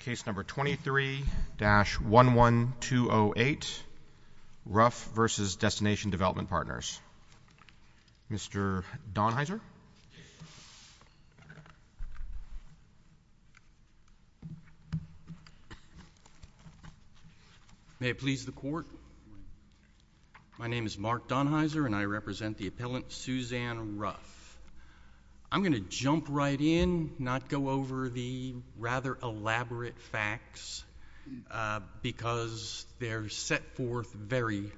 Case number 23-11208, Ruff v. Destination Development Partners. Mr. Donheiser? May it please the court, my name is Mark Donheiser and I represent the appellant Suzanne Ruff. I'm going to jump right in, not go over the rather elaborate facts because they're set forth very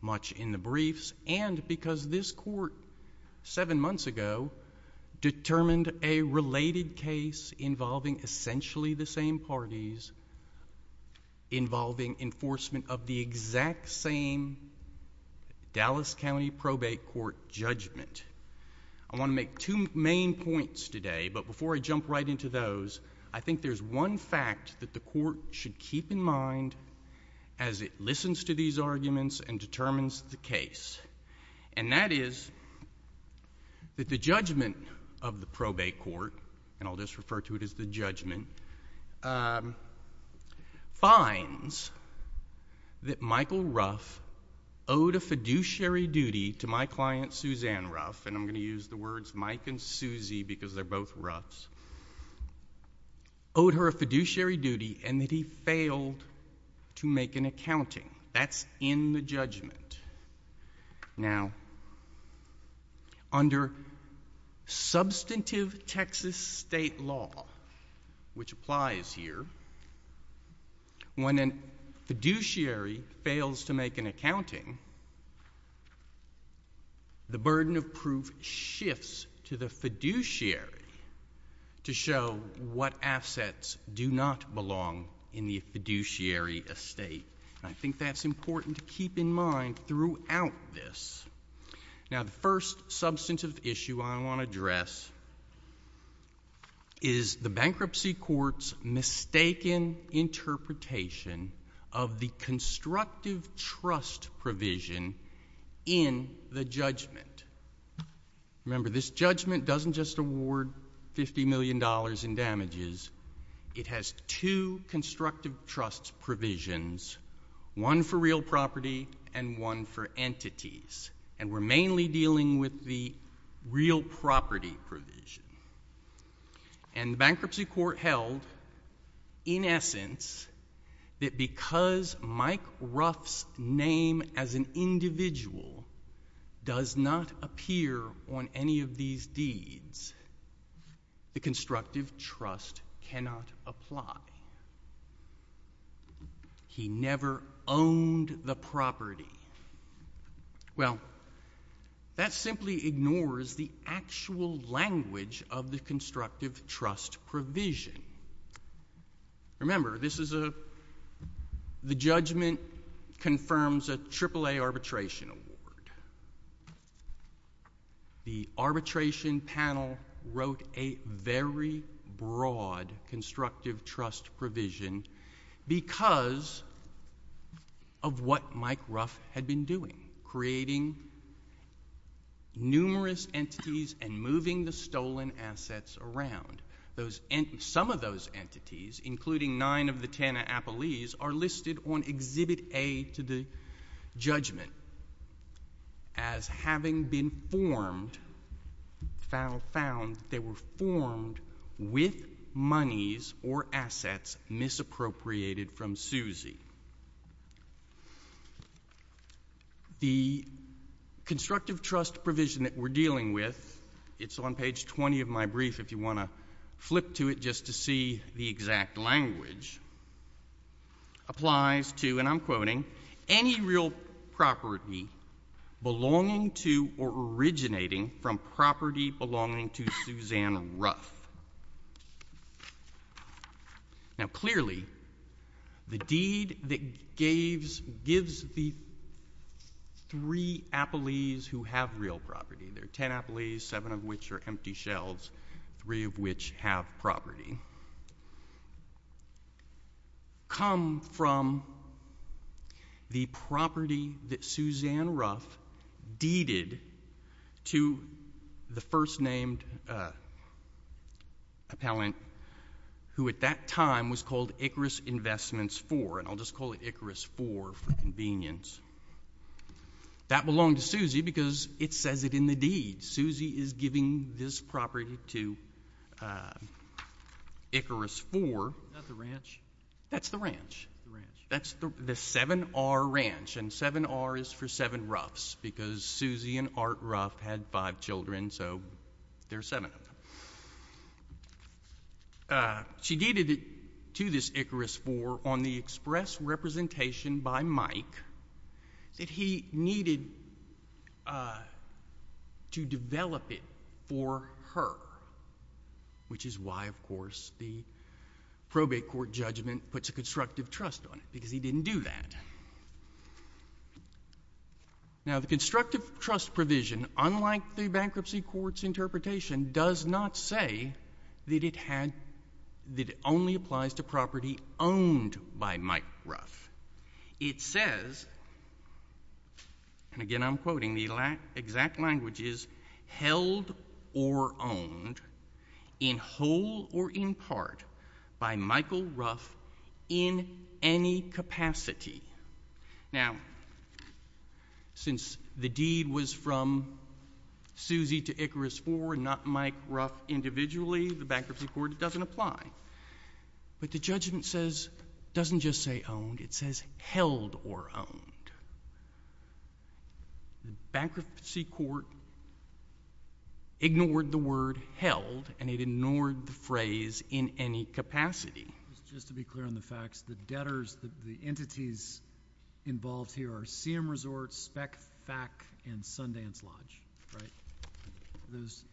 much in the briefs and because this court, seven months ago, determined a related case involving essentially the same parties, involving enforcement of the exact same Dallas County Probate Court judgment. I want to make two main points today, but before I jump right into those, I think there's one fact that the court should keep in mind as it listens to these arguments and determines the case, and that is that the judgment of the probate court, and I'll just refer to it as the judgment, finds that Michael Ruff owed a fiduciary duty to my client, Suzanne Ruff, and I'm going to use the words Mike and Susie because they're both Ruffs, owed her a fiduciary duty and that he failed to make an accounting. That's in the judgment. Now, under substantive Texas state law, which applies here, when a fiduciary fails to make an accounting, the burden of proof shifts to the fiduciary to show what assets do not belong in the fiduciary estate. I think that's important to keep in mind throughout this. Now, the first substantive issue I want to address is the bankruptcy court's mistaken interpretation of the constructive trust provision in the judgment. Remember, this judgment doesn't just award $50 million in damages. It has two constructive trust provisions, one for real property and one for entities, and we're mainly dealing with the real property provision. And the bankruptcy court held, in essence, that because Mike Ruff's name as an individual does not appear on any of these deeds, the constructive trust cannot apply. He never owned the property. Well, that simply ignores the actual language of the constructive trust provision. Remember, this is a—the judgment confirms a AAA arbitration award. The arbitration panel wrote a very broad constructive trust provision because of what Mike Ruff had been doing, creating numerous entities and moving the stolen assets around. Those—some of those entities, including nine of the TANF appellees, are listed on Exhibit A to the judgment as having been formed—found that they were formed with monies or assets misappropriated from Susie. The constructive trust provision that we're dealing with—it's on page 20 of my brief, if you want to flip to it just to see the exact language—applies to, and I'm quoting, any real property belonging to or originating from property belonging to Suzanne Ruff. Now, clearly, the deed that gave—gives the three appellees who have real property—there are three of which have property—come from the property that Suzanne Ruff deeded to the first named appellant, who at that time was called Icarus Investments IV, and I'll just call it Icarus IV for convenience. That belonged to Susie because it says it in the deed. Susie is giving this property to Icarus IV. Isn't that the ranch? That's the ranch. That's the 7R Ranch, and 7R is for seven Ruffs because Susie and Art Ruff had five children, so there are seven of them. She deeded it to this Icarus IV on the express representation by Mike that he needed to develop it for her, which is why, of course, the probate court judgment puts a constructive trust on it because he didn't do that. Now the constructive trust provision, unlike the bankruptcy court's interpretation, does not say that it had—that it only applies to property owned by Mike Ruff. It says, and again I'm quoting, the exact language is, held or owned, in whole or in part, by Michael Ruff in any capacity. Now, since the deed was from Susie to Icarus IV and not Mike Ruff individually, the bankruptcy court doesn't apply, but the judgment says—doesn't just say owned, it says held or owned. The bankruptcy court ignored the word held, and it ignored the phrase in any capacity. Just to be clear on the facts, the debtors, the entities involved here are Seaham Resort, Speck, Thack, and Sundance Lodge, right? Those—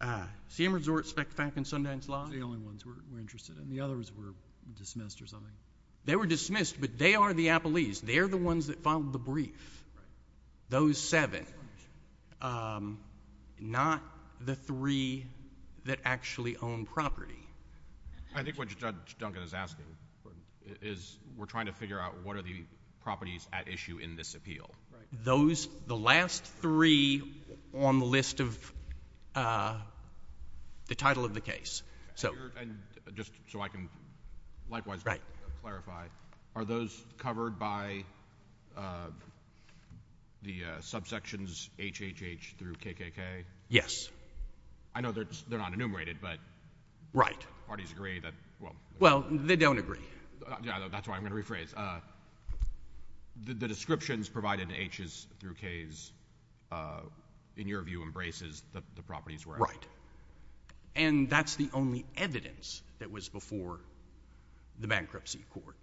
Ah, Seaham Resort, Speck, Thack, and Sundance Lodge. Those are the only ones we're interested in. The others were dismissed or something. They were dismissed, but they are the appellees. They're the ones that filed the brief, those seven, not the three that actually own property. I think what Judge Duncan is asking is we're trying to figure out what are the properties at issue in this appeal. Right. Those—the last three on the list of the title of the case, so— And just so I can likewise clarify, are those covered by the subsections HHH through KKK? Yes. I know they're not enumerated, but— Right. Parties agree that— Well, they don't agree. That's why I'm going to rephrase. The descriptions provided in H's through K's, in your view, embraces the properties where— Right. And that's the only evidence that was before the Bankruptcy Court.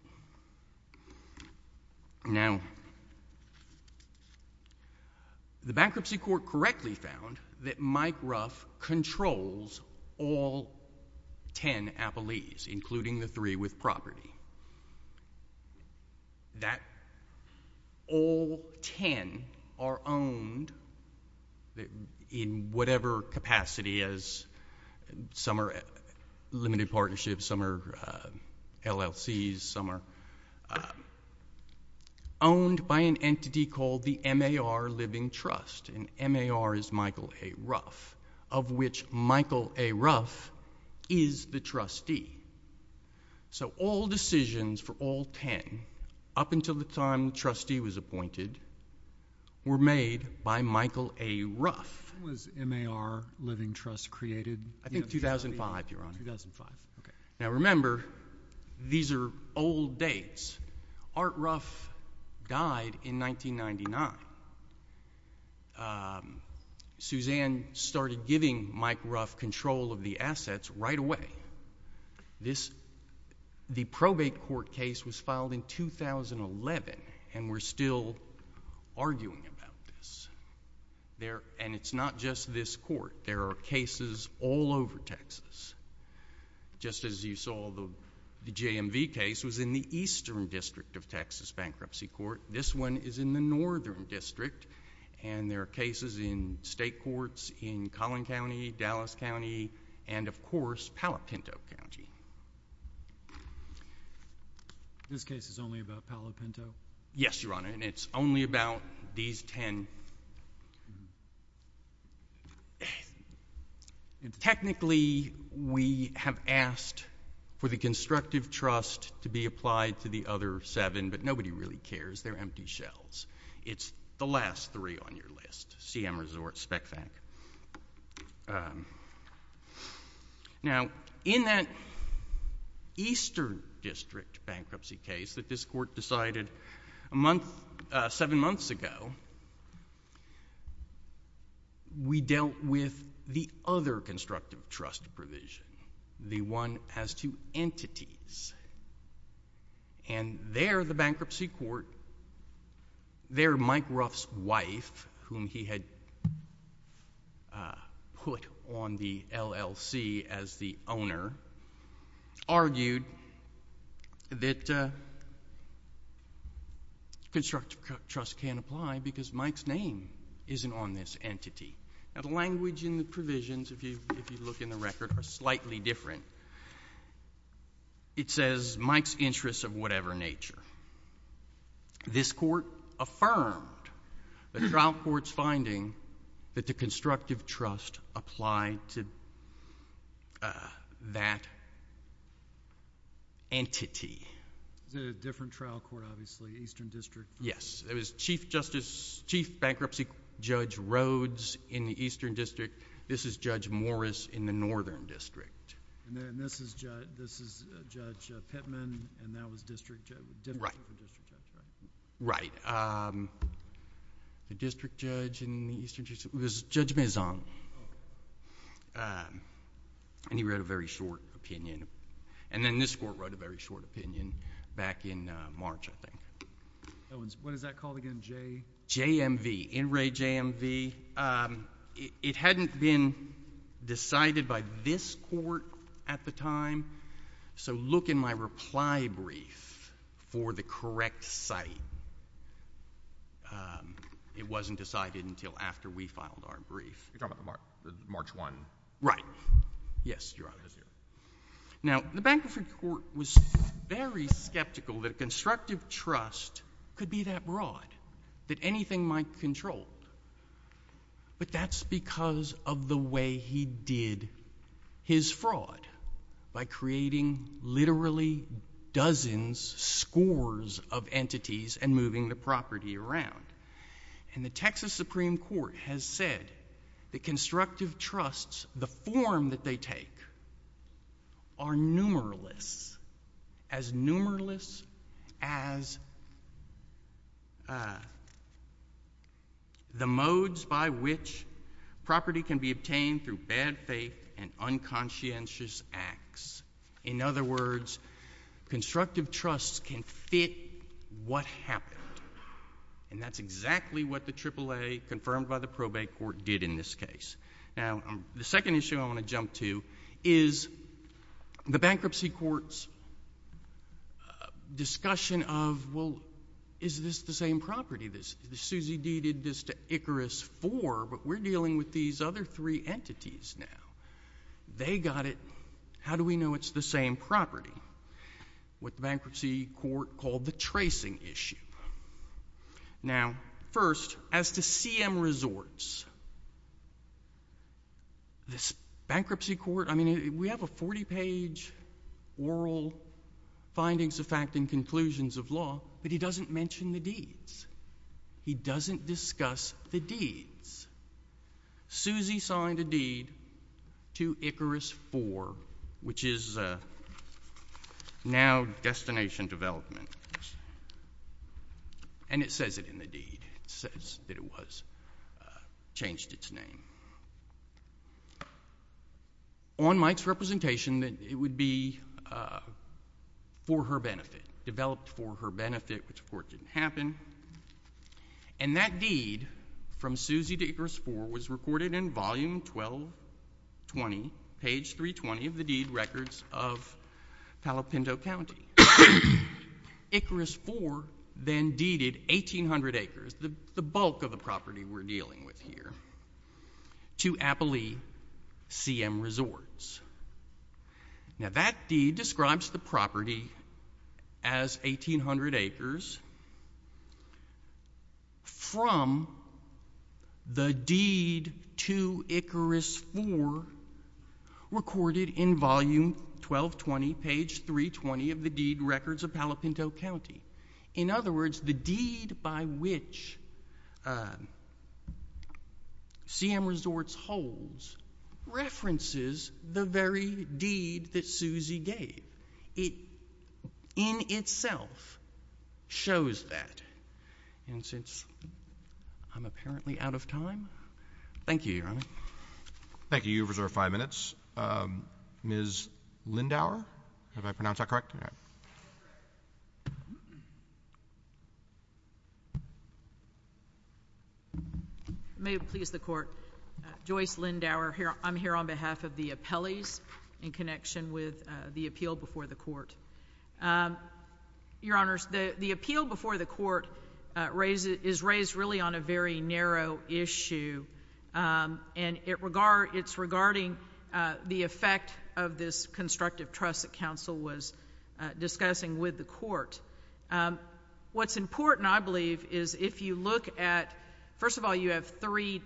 Now, the Bankruptcy Court correctly found that Mike Ruff controls all 10 appellees, including the three with property. That all 10 are owned in whatever capacity, as some are limited partnerships, some are LLCs, some are owned by an entity called the MAR Living Trust, and MAR is Michael A. Ruff, of which Michael A. Ruff is the trustee. So, all decisions for all 10, up until the time the trustee was appointed, were made by Michael A. Ruff. When was MAR Living Trust created? I think 2005, Your Honor. 2005. Okay. Now, remember, these are old dates. Art Ruff died in 1999. Suzanne started giving Mike Ruff control of the assets right away. The probate court case was filed in 2011, and we're still arguing about this. And it's not just this court. There are cases all over Texas. Just as you saw, the JMV case was in the eastern district of Texas Bankruptcy Court. This one is in the northern district, and there are cases in state courts in Collin County, Dallas County, and, of course, Palo Pinto County. This case is only about Palo Pinto? Yes, Your Honor, and it's only about these 10. Technically, we have asked for the constructive trust to be applied to the other 7, but nobody really cares. They're empty shells. It's the last 3 on your list, CM Resorts, SpecFAC. Now, in that eastern district bankruptcy case that this court decided 7 months ago, we dealt with the other constructive trust provision. The one as to entities, and there, the bankruptcy court, there, Mike Ruff's wife, whom he had put on the LLC as the owner, argued that constructive trust can't apply because Mike's name isn't on this entity. Now, the language in the provisions, if you look in the record, are slightly different. It says, Mike's interests of whatever nature. This court affirmed the trial court's finding that the constructive trust applied to that entity. Is it a different trial court, obviously, eastern district? Yes. It was Chief Bankruptcy Judge Rhoades in the eastern district. This is Judge Morris in the northern district. And this is Judge Pittman, and that was District Judge. The district judge in the eastern district was Judge Maison, and he wrote a very short opinion, and then this court wrote a very short opinion back in March, I think. What is that called again? JMV. In re JMV. It hadn't been decided by this court at the time, so look in my reply brief for the correct site. It wasn't decided until after we filed our brief. You're talking about March 1? Right. Yes, you're right. Now, the bankruptcy court was very skeptical that a constructive trust could be that broad, that anything might control, but that's because of the way he did his fraud by creating literally dozens, scores of entities and moving the property around. And the Texas Supreme Court has said that constructive trusts, the form that they take, are numerous, as numerous as the modes by which property can be obtained through bad faith and unconscientious acts. In other words, constructive trusts can fit what happened, and that's exactly what the AAA, confirmed by the probate court, did in this case. Now, the second issue I want to jump to is the bankruptcy court's discussion of, well, is this the same property? Susie D. did this to Icarus IV, but we're dealing with these other three entities now. They got it. How do we know it's the same property? What the bankruptcy court called the tracing issue. Now, first, as to CM Resorts, this bankruptcy court, I mean, we have a 40-page oral findings of fact and conclusions of law, but he doesn't mention the deeds. He doesn't discuss the deeds. Susie signed a deed to Icarus IV, which is now destination development, and it says it in the deed. It says that it was, changed its name. On Mike's representation, it would be for her benefit, developed for her benefit, which of course didn't happen. And that deed from Susie to Icarus IV was recorded in volume 1220, page 320 of the deed records of Palo Pinto County. Icarus IV then deeded 1,800 acres, the bulk of the property we're dealing with here, to Appalee CM Resorts. Now, that deed describes the property as 1,800 acres from the deed to Icarus IV recorded in volume 1220, page 320 of the deed records of Palo Pinto County. In other words, the deed by which CM Resorts holds references the very deed that Susie gave. It in itself shows that. And since I'm apparently out of time, thank you, Your Honor. Thank you. You reserve five minutes. Ms. Lindauer, did I pronounce that correct? That was correct. May it please the Court, Joyce Lindauer here. I'm here on behalf of the appellees in connection with the appeal before the court. Your Honors, the appeal before the court is raised really on a very narrow issue. It's regarding the effect of this constructive trust that counsel was discussing with the What's important, I believe, is if you look at... first of all, you have three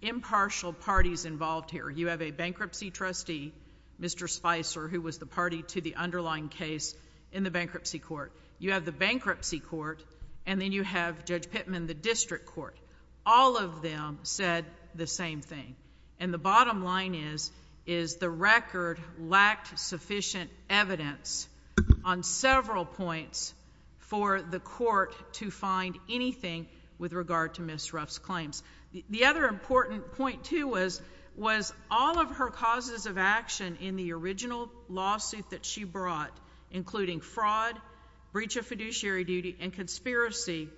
impartial parties involved here. You have a bankruptcy trustee, Mr. Spicer, who was the party to the underlying case in the bankruptcy court. You have the bankruptcy court, and then you have Judge Pittman, the district court. All of them said the same thing. And the bottom line is, is the record lacked sufficient evidence on several points for the court to find anything with regard to Ms. Ruff's claims. The other important point, too, was all of her causes of action in the original lawsuit that she brought, including fraud, breach of fiduciary duty, and conspiracy,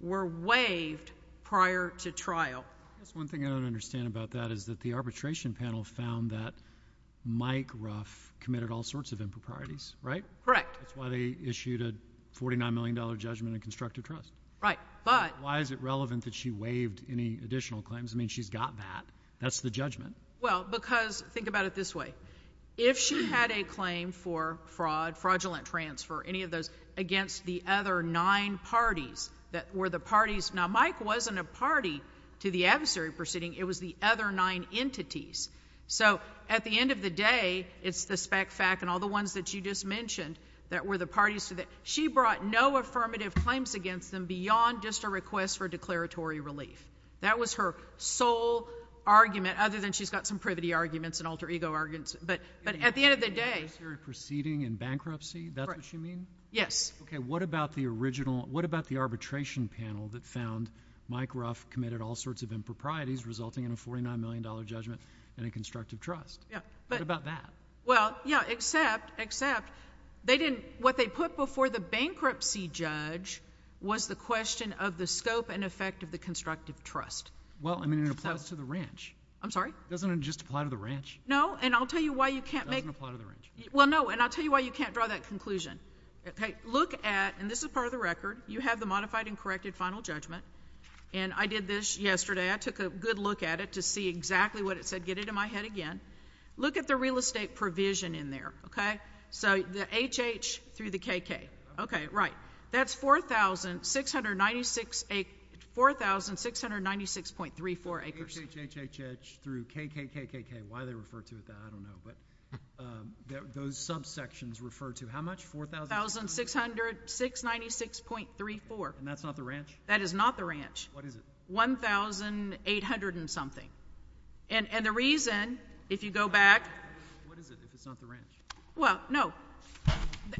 were waived prior to trial. I guess one thing I don't understand about that is that the arbitration panel found that Mike Ruff committed all sorts of improprieties, right? Correct. That's why they issued a $49 million judgment in constructive trust. Right, but... Why is it relevant that she waived any additional claims? I mean, she's got that. That's the judgment. Well, because... think about it this way. If she had a claim for fraud, fraudulent transfer, any of those, against the other nine parties that were the parties... Now, Mike wasn't a party to the adversary proceeding. It was the other nine entities. So at the end of the day, it's the spec-fac and all the ones that you just mentioned that were the parties to the... She brought no affirmative claims against them beyond just a request for declaratory relief. That was her sole argument, other than she's got some privity arguments and alter ego arguments But at the end of the day... Adversary proceeding and bankruptcy, that's what you mean? Yes. Okay, what about the original... what about the arbitration panel that found Mike Ruff committed all sorts of improprieties, resulting in a $49 million judgment in a constructive trust? Yeah, but... What about that? Well, yeah, except... except, they didn't... what they put before the bankruptcy judge was the question of the scope and effect of the constructive trust. Well, I mean, it applies to the ranch. I'm sorry? Doesn't it just apply to the ranch? No, and I'll tell you why you can't make... It doesn't apply to the ranch. Well, no, and I'll tell you why you can't draw that conclusion, okay? Look at... and this is part of the record. You have the modified and corrected final judgment, and I did this yesterday. I took a good look at it to see exactly what it said. Get it in my head again. Look at the real estate provision in there, okay? So the HH through the KK, okay, right. That's 4,696... 4,696.34 acres. HHH through KKKKK, why they refer to it that, I don't know, but those subsections refer to how much? 4,600... 4,696.34. And that's not the ranch? That is not the ranch. What is it? 1,800 and something, and the reason, if you go back... What is it if it's not the ranch? Well, no,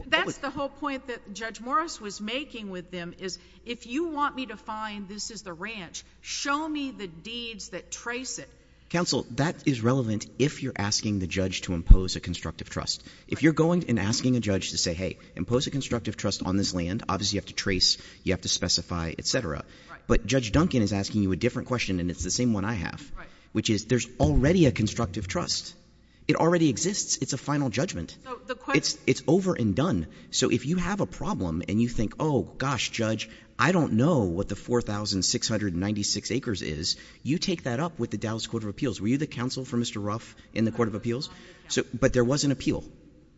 that's the whole point that Judge Morris was making with them is if you want me to find this is the ranch, show me the deeds that trace it. Counsel, that is relevant if you're asking the judge to impose a constructive trust. If you're going and asking a judge to say, hey, impose a constructive trust on this land, obviously you have to trace, you have to specify, et cetera. But Judge Duncan is asking you a different question, and it's the same one I have, which is there's already a constructive trust. It already exists. It's a final judgment. So the question... It's over and done. So if you have a problem and you think, oh, gosh, Judge, I don't know what the 4,696 acres is, you take that up with the Dallas Court of Appeals. Were you the counsel for Mr. Ruff in the Court of Appeals? But there was an appeal.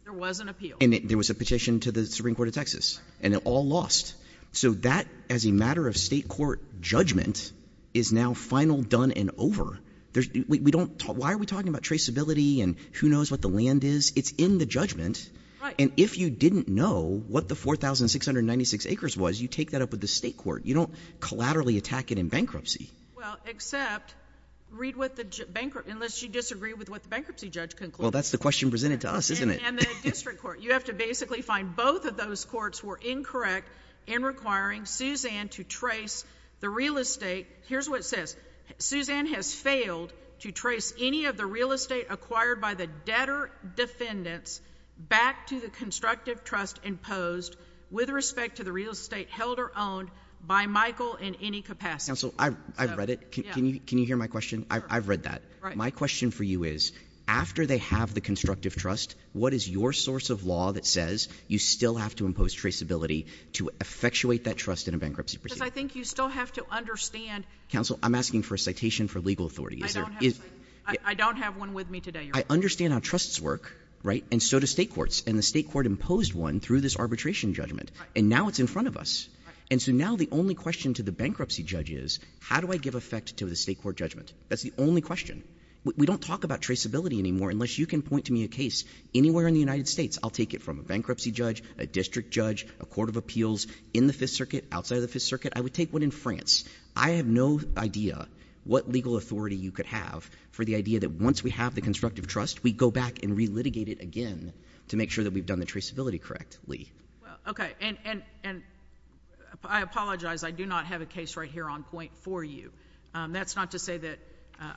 There was an appeal. And there was a petition to the Supreme Court of Texas, and it all lost. So that, as a matter of state court judgment, is now final, done, and over. Why are we talking about traceability and who knows what the land is? It's in the judgment. Right. But if you didn't know what the 4,696 acres was, you take that up with the state court. You don't collaterally attack it in bankruptcy. Well, except read what the bankruptcy... unless you disagree with what the bankruptcy judge concluded. Well, that's the question presented to us, isn't it? And the district court. You have to basically find both of those courts were incorrect in requiring Suzanne to trace the real estate. Here's what it says. Suzanne has failed to trace any of the real estate acquired by the debtor defendants back to the constructive trust imposed with respect to the real estate held or owned by Michael in any capacity. Counsel, I've read it. Yeah. Can you hear my question? Sure. I've read that. Right. My question for you is, after they have the constructive trust, what is your source of law that says you still have to impose traceability to effectuate that trust in a bankruptcy proceeding? Because I think you still have to understand... Counsel, I'm asking for a citation for legal authority. I don't have one with me today, Your Honor. I understand how trusts work, right? And so do state courts. And the state court imposed one through this arbitration judgment. And now it's in front of us. And so now the only question to the bankruptcy judge is, how do I give effect to the state court judgment? That's the only question. We don't talk about traceability anymore unless you can point to me a case anywhere in the United States. I'll take it from a bankruptcy judge, a district judge, a court of appeals, in the Fifth Circuit, outside of the Fifth Circuit. I would take one in France. I have no idea what legal authority you could have for the idea that once we have the constructive trust, we go back and re-litigate it again to make sure that we've done the traceability correctly. Well, okay. And I apologize. I do not have a case right here on point for you. That's not to say that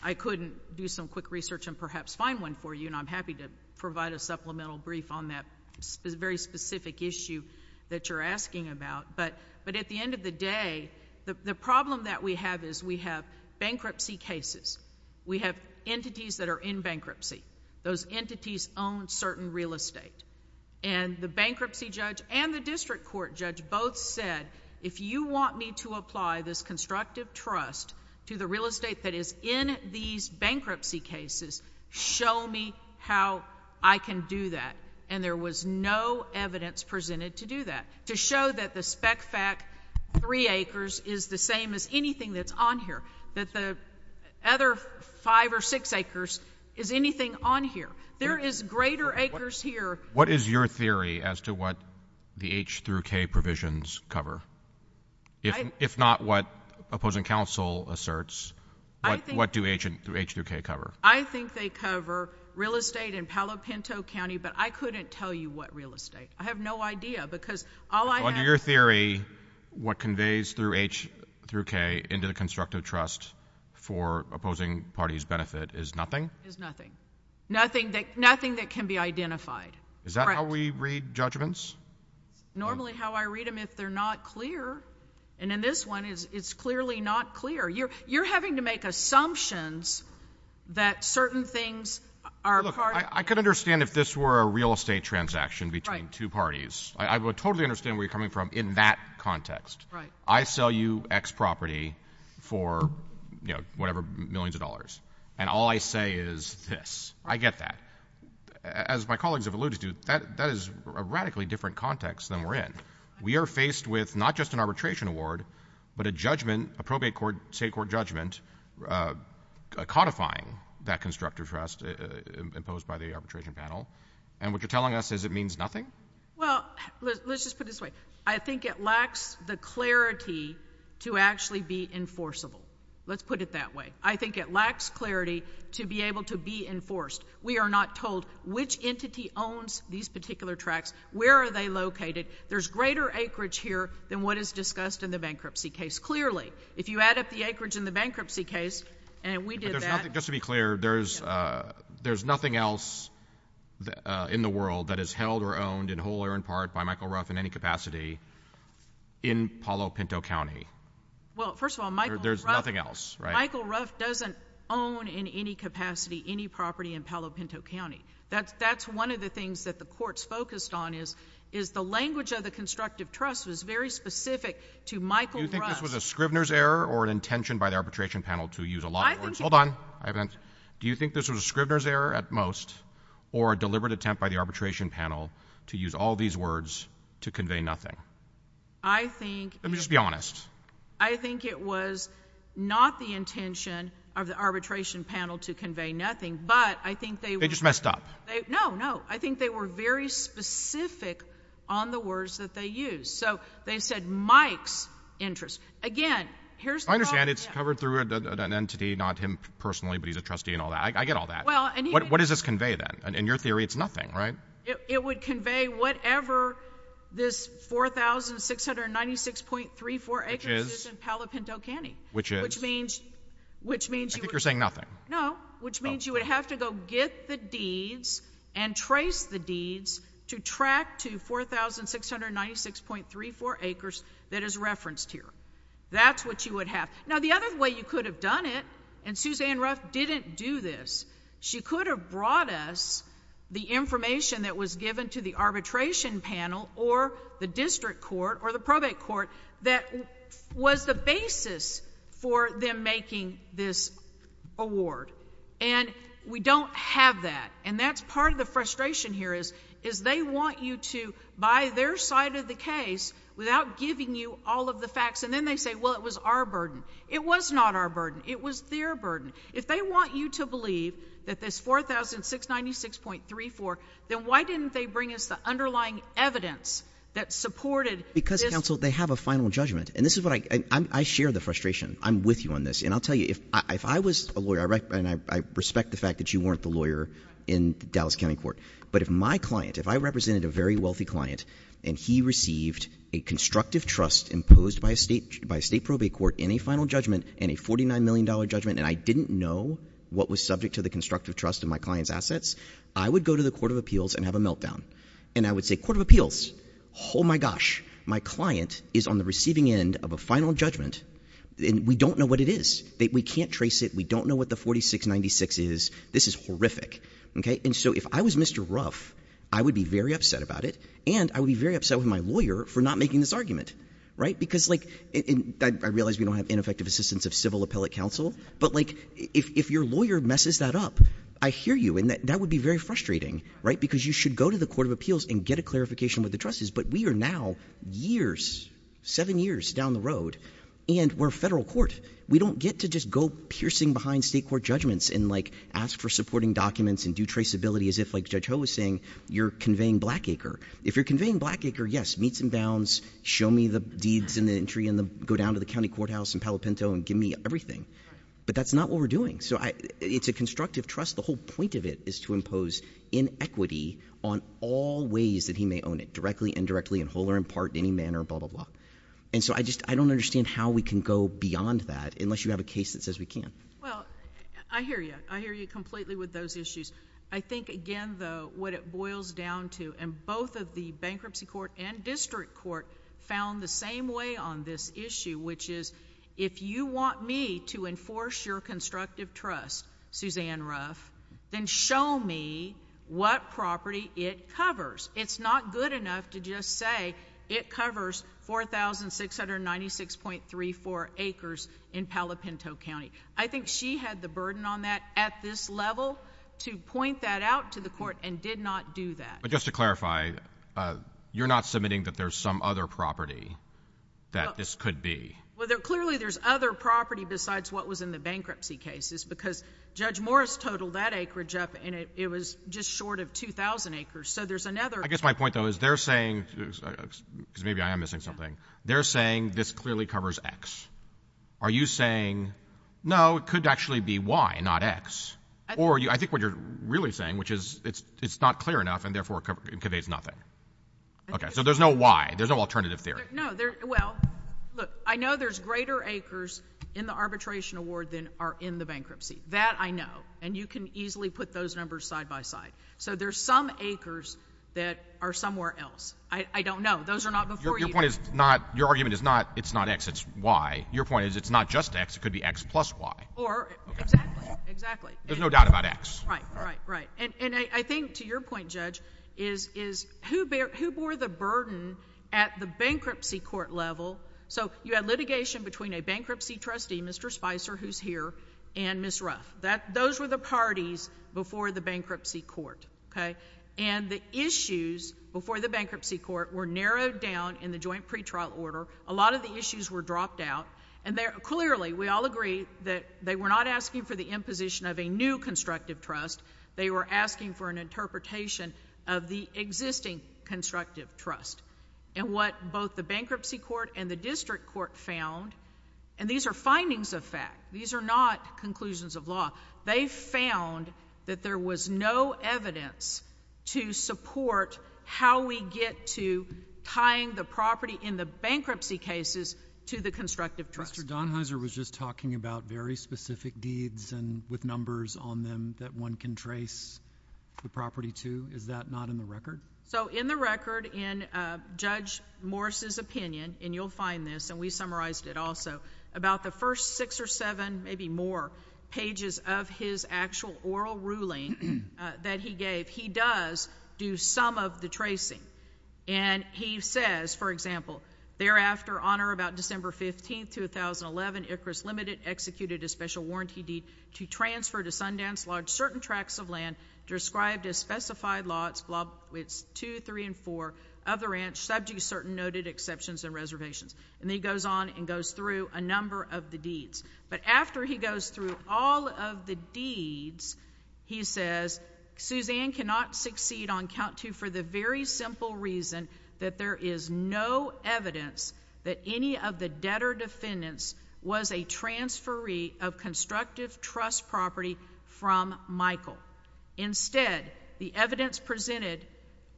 I couldn't do some quick research and perhaps find one for you. And I'm happy to provide a supplemental brief on that very specific issue that you're asking about. But at the end of the day, the problem that we have is we have bankruptcy cases. We have entities that are in bankruptcy. Those entities own certain real estate. And the bankruptcy judge and the district court judge both said, if you want me to apply this constructive trust to the real estate that is in these bankruptcy cases, show me how I can do that. And there was no evidence presented to do that, to show that the spec-fac three acres is the same as anything that's on here, that the other five or six acres is anything on here. There is greater acres here. What is your theory as to what the H through K provisions cover? If not what opposing counsel asserts, what do H through K cover? I think they cover real estate in Palo Pinto County, but I couldn't tell you what real estate. I have no idea. Under your theory, what conveys through H through K into the constructive trust for opposing parties' benefit is nothing? Is nothing. Nothing that can be identified. Is that how we read judgments? Normally how I read them, if they're not clear, and in this one, it's clearly not clear. You're having to make assumptions that certain things are part of it. Look, I could understand if this were a real estate transaction between two parties. I would totally understand where you're coming from in that context. I sell you X property for, you know, whatever, millions of dollars, and all I say is this. I get that. As my colleagues have alluded to, that is a radically different context than we're in. We are faced with not just an arbitration award, but a judgment, a probate court, state court judgment, codifying that constructive trust imposed by the arbitration panel. And what you're telling us is it means nothing? Well, let's just put it this way. I think it lacks the clarity to actually be enforceable. Let's put it that way. I think it lacks clarity to be able to be enforced. We are not told which entity owns these particular tracts, where are they located. There's greater acreage here than what is discussed in the bankruptcy case. Clearly, if you add up the acreage in the bankruptcy case, and we did that— Just to be clear, there's nothing else in the world that is held or owned in whole or in part by Michael Ruff in any capacity in Palo Pinto County. Well, first of all, Michael Ruff— There's nothing else, right? Michael Ruff doesn't own in any capacity any property in Palo Pinto County. That's one of the things that the courts focused on is the language of the constructive trust was very specific to Michael Ruff— Do you think this was a Scribner's error or an intention by the arbitration panel to use a lot of words? Hold on. Do you think this was a Scribner's error at most or a deliberate attempt by the arbitration panel to use all these words to convey nothing? I think— Let me just be honest. I think it was not the intention of the arbitration panel to convey nothing, but I think they— They just messed up. No, no. I think they were very specific on the words that they used. So, they said Mike's interest. Again, here's— So, I understand it's covered through an entity, not him personally, but he's a trustee and all that. I get all that. Well— What does this convey, then? In your theory, it's nothing, right? It would convey whatever this 4,696.34 acres is in Palo Pinto County. Which is? Which means— I think you're saying nothing. No. Which means you would have to go get the deeds and trace the deeds to track to 4,696.34 acres that is referenced here. That's what you would have. Now, the other way you could have done it, and Suzanne Ruff didn't do this, she could have brought us the information that was given to the arbitration panel or the district court or the probate court that was the basis for them making this award. And we don't have that. And that's part of the frustration here is they want you to, by their side of the case, without giving you all of the facts, and then they say, well, it was our burden. It was not our burden. It was their burden. If they want you to believe that this 4,696.34, then why didn't they bring us the underlying evidence that supported this— Because, counsel, they have a final judgment. And this is what I—I share the frustration. I'm with you on this. And I'll tell you, if I was a lawyer, and I respect the fact that you weren't the lawyer in Dallas County Court, but if my client, if I represented a very wealthy client and he received a constructive trust imposed by a state probate court in a final judgment and a $49 million judgment, and I didn't know what was subject to the constructive trust in my client's assets, I would go to the Court of Appeals and have a meltdown. And I would say, Court of Appeals, oh my gosh, my client is on the receiving end of a final judgment and we don't know what it is. We can't trace it. We don't know what the 4,696 is. This is horrific. Okay? And so if I was Mr. Ruff, I would be very upset about it, and I would be very upset with my lawyer for not making this argument, right? Because like—I realize we don't have ineffective assistance of civil appellate counsel, but like if your lawyer messes that up, I hear you, and that would be very frustrating, right? Because you should go to the Court of Appeals and get a clarification with the trustees. But we are now years, seven years down the road, and we're a federal court. We don't get to just go piercing behind state court judgments and like ask for supporting documents and do traceability as if, like Judge Ho was saying, you're conveying Blackacre. If you're conveying Blackacre, yes, meet some bounds, show me the deeds in the entry and go down to the county courthouse in Palo Pinto and give me everything. But that's not what we're doing. So it's a constructive trust. The whole point of it is to impose inequity on all ways that he may own it, directly, indirectly, in whole or in part, in any manner, blah, blah, blah. And so I just—I don't understand how we can go beyond that unless you have a case that says we can. Well, I hear you. I hear you completely with those issues. I think, again, though, what it boils down to—and both of the bankruptcy court and district court found the same way on this issue, which is if you want me to enforce your constructive trust, Suzanne Ruff, then show me what property it covers. It's not good enough to just say it covers 4,696.34 acres in Palo Pinto County. I think she had the burden on that at this level to point that out to the court and did not do that. But just to clarify, you're not submitting that there's some other property that this could be? Well, clearly, there's other property besides what was in the bankruptcy cases because Judge Morris totaled that acreage up, and it was just short of 2,000 acres. So there's another— I guess my point, though, is they're saying—because maybe I am missing something—they're saying this clearly covers X. Are you saying, no, it could actually be Y, not X? Or I think what you're really saying, which is it's not clear enough and therefore it conveys nothing. Okay. So there's no Y. There's no alternative theory. No, there—well, look, I know there's greater acres in the arbitration award than are in the bankruptcy. That I know. And you can easily put those numbers side by side. So there's some acres that are somewhere else. I don't know. Those are not before you. Your point is not—your argument is not it's not X, it's Y. Your point is it's not just X. It could be X plus Y. Or— Exactly. There's no doubt about X. Right. Right. Right. And I think, to your point, Judge, is who bore the burden at the bankruptcy court level? So you had litigation between a bankruptcy trustee, Mr. Spicer, who's here, and Ms. Ruff. Those were the parties before the bankruptcy court, okay? And the issues before the bankruptcy court were narrowed down in the joint pretrial order. A lot of the issues were dropped out. And clearly, we all agree that they were not asking for the imposition of a new constructive trust. They were asking for an interpretation of the existing constructive trust. And what both the bankruptcy court and the district court found—and these are findings of fact. These are not conclusions of law. They found that there was no evidence to support how we get to tying the property in the bankruptcy cases to the constructive trust. Mr. Donheiser was just talking about very specific deeds and with numbers on them that one can trace the property to. Is that not in the record? So in the record, in Judge Morris's opinion—and you'll find this, and we summarized it also—about the first six or seven, maybe more, pages of his actual oral ruling that he gave, he does do some of the tracing. And he says, for example, thereafter, on or about December 15, 2011, Icarus Limited executed a special warranty deed to transfer to Sundance Lodge certain tracts of land described as specified law, it's two, three, and four, of the ranch subject to certain noted exceptions and reservations. And then he goes on and goes through a number of the deeds. But after he goes through all of the deeds, he says, Suzanne cannot succeed on count two for the very simple reason that there is no evidence that any of the debtor-defendants was a transferee of constructive trust property from Michael. Instead, the evidence presented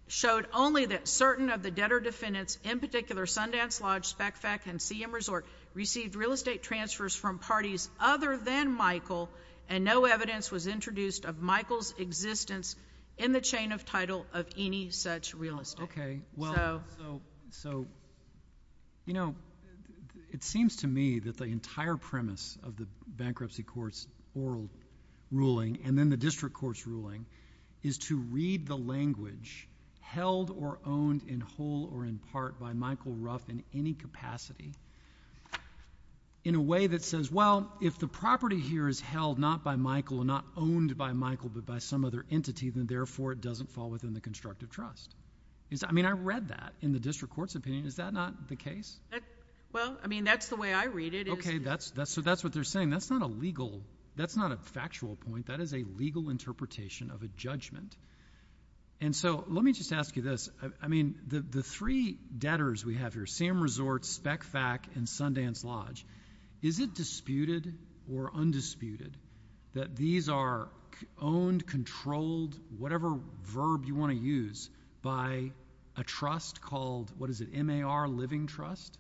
showed only that certain of the debtor-defendants, in particular Sundance Lodge, SpecFac, and CM Resort, received real estate transfers from parties other than Michael, and no evidence was introduced of Michael's existence in the chain of title of any such real estate. Well, so, you know, it seems to me that the entire premise of the bankruptcy court's oral ruling and then the district court's ruling is to read the language, held or owned in whole or in part by Michael Ruff in any capacity, in a way that says, well, if the property here is held not by Michael and not owned by Michael, but by some other entity, then therefore it doesn't fall within the constructive trust. I mean, I read that in the district court's opinion. Is that not the case? Well, I mean, that's the way I read it. Okay. So that's what they're saying. That's not a legal — that's not a factual point. That is a legal interpretation of a judgment. And so, let me just ask you this. I mean, the three debtors we have here, CM Resort, SpecFac, and Sundance Lodge, is it disputed or undisputed that these are owned, controlled, whatever verb you want to use, by a trust called, what is it, MAR Living Trust?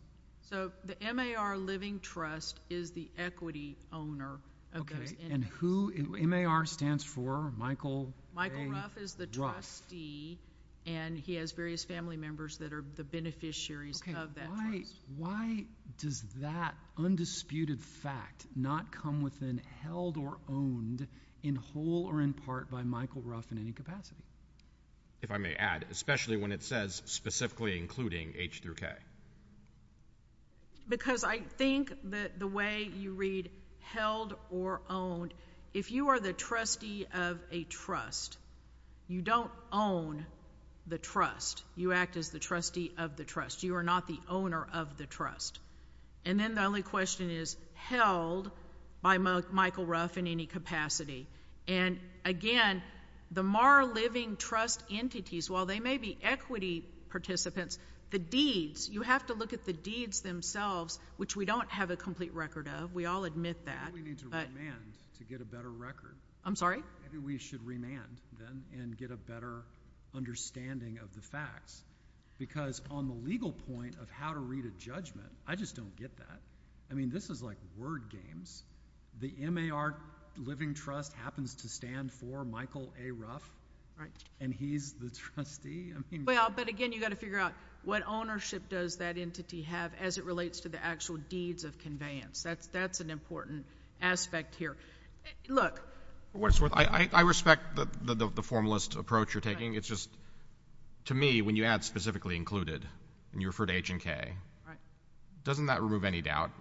So the MAR Living Trust is the equity owner of those entities. And who — MAR stands for Michael A. Ruff. Michael Ruff is the trustee, and he has various family members that are the beneficiaries of that trust. Why does that undisputed fact not come within held or owned in whole or in part by Michael Ruff in any capacity? If I may add, especially when it says specifically including H through K. Because I think that the way you read held or owned, if you are the trustee of a trust, you don't own the trust. You act as the trustee of the trust. You are not the owner of the trust. And then the only question is, held by Michael Ruff in any capacity. And again, the MAR Living Trust entities, while they may be equity participants, the deeds — you have to look at the deeds themselves, which we don't have a complete record of. We all admit that. But — Maybe we need to remand to get a better record. I'm sorry? Maybe we should remand, then, and get a better understanding of the facts. Because on the legal point of how to read a judgment, I just don't get that. I mean, this is like word games. The MAR Living Trust happens to stand for Michael A. Ruff. And he's the trustee? I mean — Well, but again, you've got to figure out what ownership does that entity have as it relates to the actual deeds of conveyance. That's an important aspect here. Look — What's worth — I respect the formalist approach you're taking. It's just, to me, when you add specifically included, and you refer to H and K, doesn't that remove any doubt?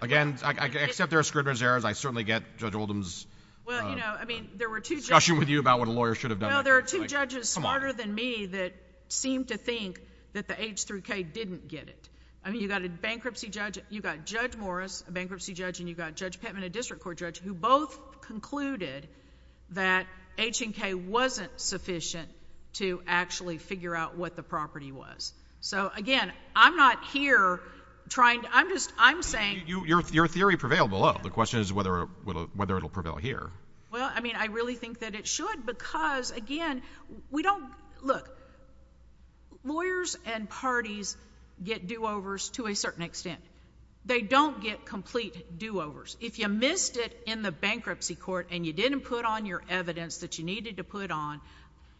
Again, except there are scrimmage errors, I certainly get Judge Oldham's — Well, you know, I mean, there were two judges —— discussion with you about what a lawyer should have done. Well, there are two judges smarter than me that seem to think that the H through K didn't get it. I mean, you've got a bankruptcy judge — you've got Judge Morris, a bankruptcy judge, and you've got Judge Pittman, a district court judge, who both concluded that H and K wasn't sufficient to actually figure out what the property was. So again, I'm not here trying to — I'm just — I'm saying — Your theory prevailed below. The question is whether it'll prevail here. Well, I mean, I really think that it should because, again, we don't — look, lawyers and parties get do-overs to a certain extent. They don't get complete do-overs. If you missed it in the bankruptcy court and you didn't put on your evidence that you needed to put on,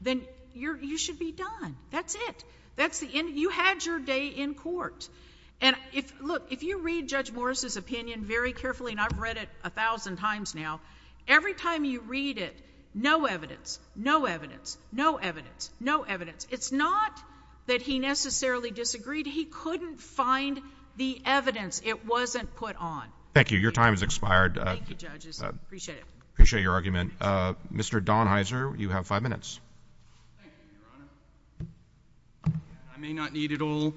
then you should be done. That's it. That's the end. You had your day in court. And look, if you read Judge Morris's opinion very carefully — and I've read it a thousand times now — every time you read it, no evidence, no evidence, no evidence, no evidence. It's not that he necessarily disagreed. But he couldn't find the evidence. It wasn't put on. Thank you. Your time has expired. Thank you, judges. Appreciate it. Appreciate your argument. Mr. Donheiser, you have five minutes. Thank you, Your Honor. I may not need it all,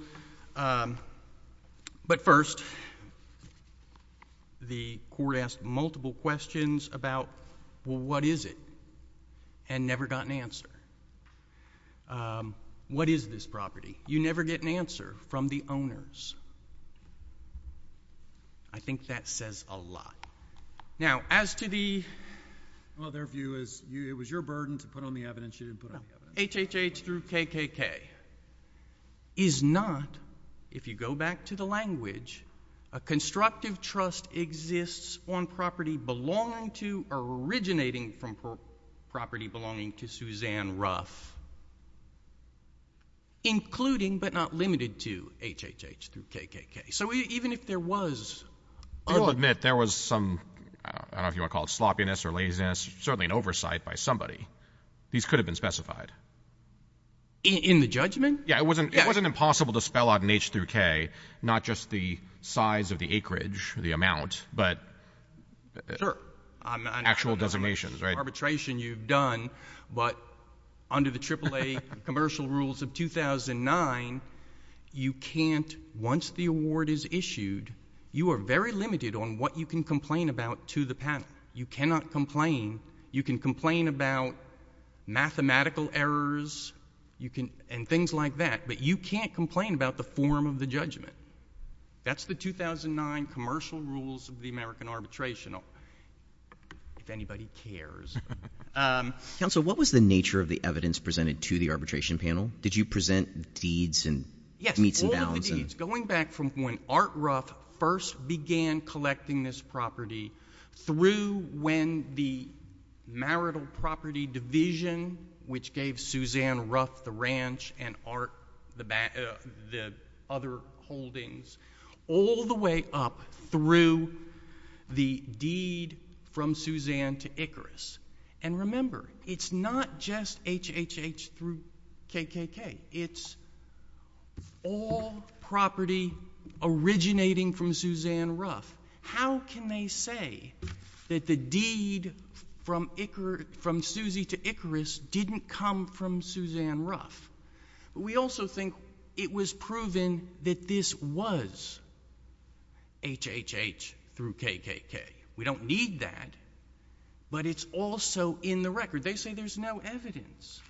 but first, the court asked multiple questions about, well, what is it, and never got an answer. What is this property? You never get an answer from the owners. I think that says a lot. Now, as to the — Well, their view is it was your burden to put on the evidence. You didn't put on the evidence. No. HHH through KKK is not, if you go back to the language, a constructive trust exists on property belonging to or originating from property belonging to Suzanne Ruff, including but not limited to HHH through KKK. So even if there was — I will admit, there was some — I don't know if you want to call it sloppiness or laziness, certainly an oversight by somebody. These could have been specified. In the judgment? Yeah. It wasn't impossible to spell out in H through K not just the size of the acreage, the amount, but — Sure. Actual designations, right? I'm not talking about arbitration you've done, but under the AAA commercial rules of 2009, you can't — once the award is issued, you are very limited on what you can complain about to the panel. You cannot complain. You can complain about mathematical errors and things like that, but you can't complain about the form of the judgment. That's the 2009 commercial rules of the American arbitration, if anybody cares. Counsel, what was the nature of the evidence presented to the arbitration panel? Did you present deeds and — Yes. All of the deeds, going back from when Art Ruff first began collecting this property through when the marital property division, which gave Suzanne Ruff the ranch and Art Ruff the other holdings, all the way up through the deed from Suzanne to Icarus. And remember, it's not just HHH through KKK. It's all property originating from Suzanne Ruff. How can they say that the deed from Suzy to Icarus didn't come from Suzanne Ruff? We also think it was proven that this was HHH through KKK. We don't need that, but it's also in the record. They say there's no evidence.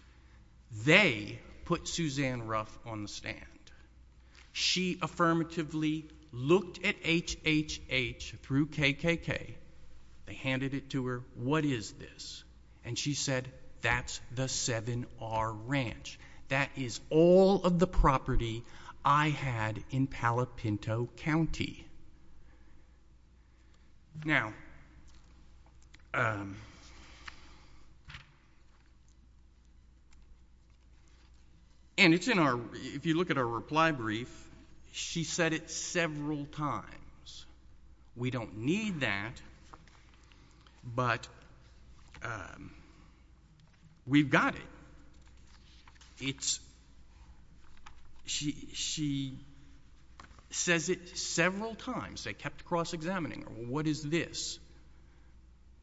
They put Suzanne Ruff on the stand. She affirmatively looked at HHH through KKK, they handed it to her, what is this? And she said, that's the 7R Ranch. That is all of the property I had in Palopinto County. Now — and it's in our — if you look at our reply brief, she said it several times. We don't need that, but we've got it. It's — she says it several times. They kept cross-examining, what is this,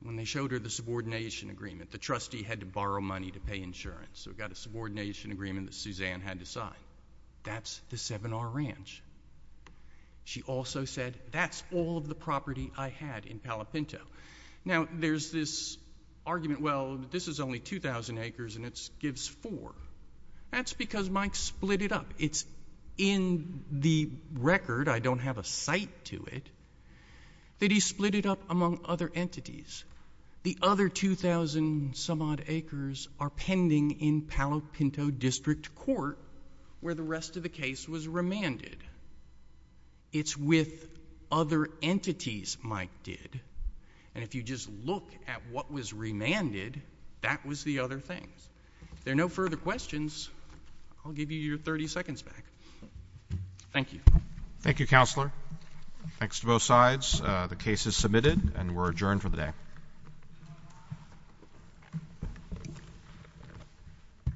when they showed her the subordination agreement. The trustee had to borrow money to pay insurance, so we've got a subordination agreement that Suzanne had to sign. That's the 7R Ranch. She also said, that's all of the property I had in Palopinto. Now there's this argument, well, this is only 2,000 acres and it gives four. That's because Mike split it up. It's in the record, I don't have a cite to it, that he split it up among other entities. The other 2,000-some-odd acres are pending in Palopinto District Court, where the rest of the case was remanded. It's with other entities Mike did, and if you just look at what was remanded, that was the other things. If there are no further questions, I'll give you your 30 seconds back. Thank you. Thank you, Counselor. Thanks to both sides. The case is submitted and we're adjourned for the day.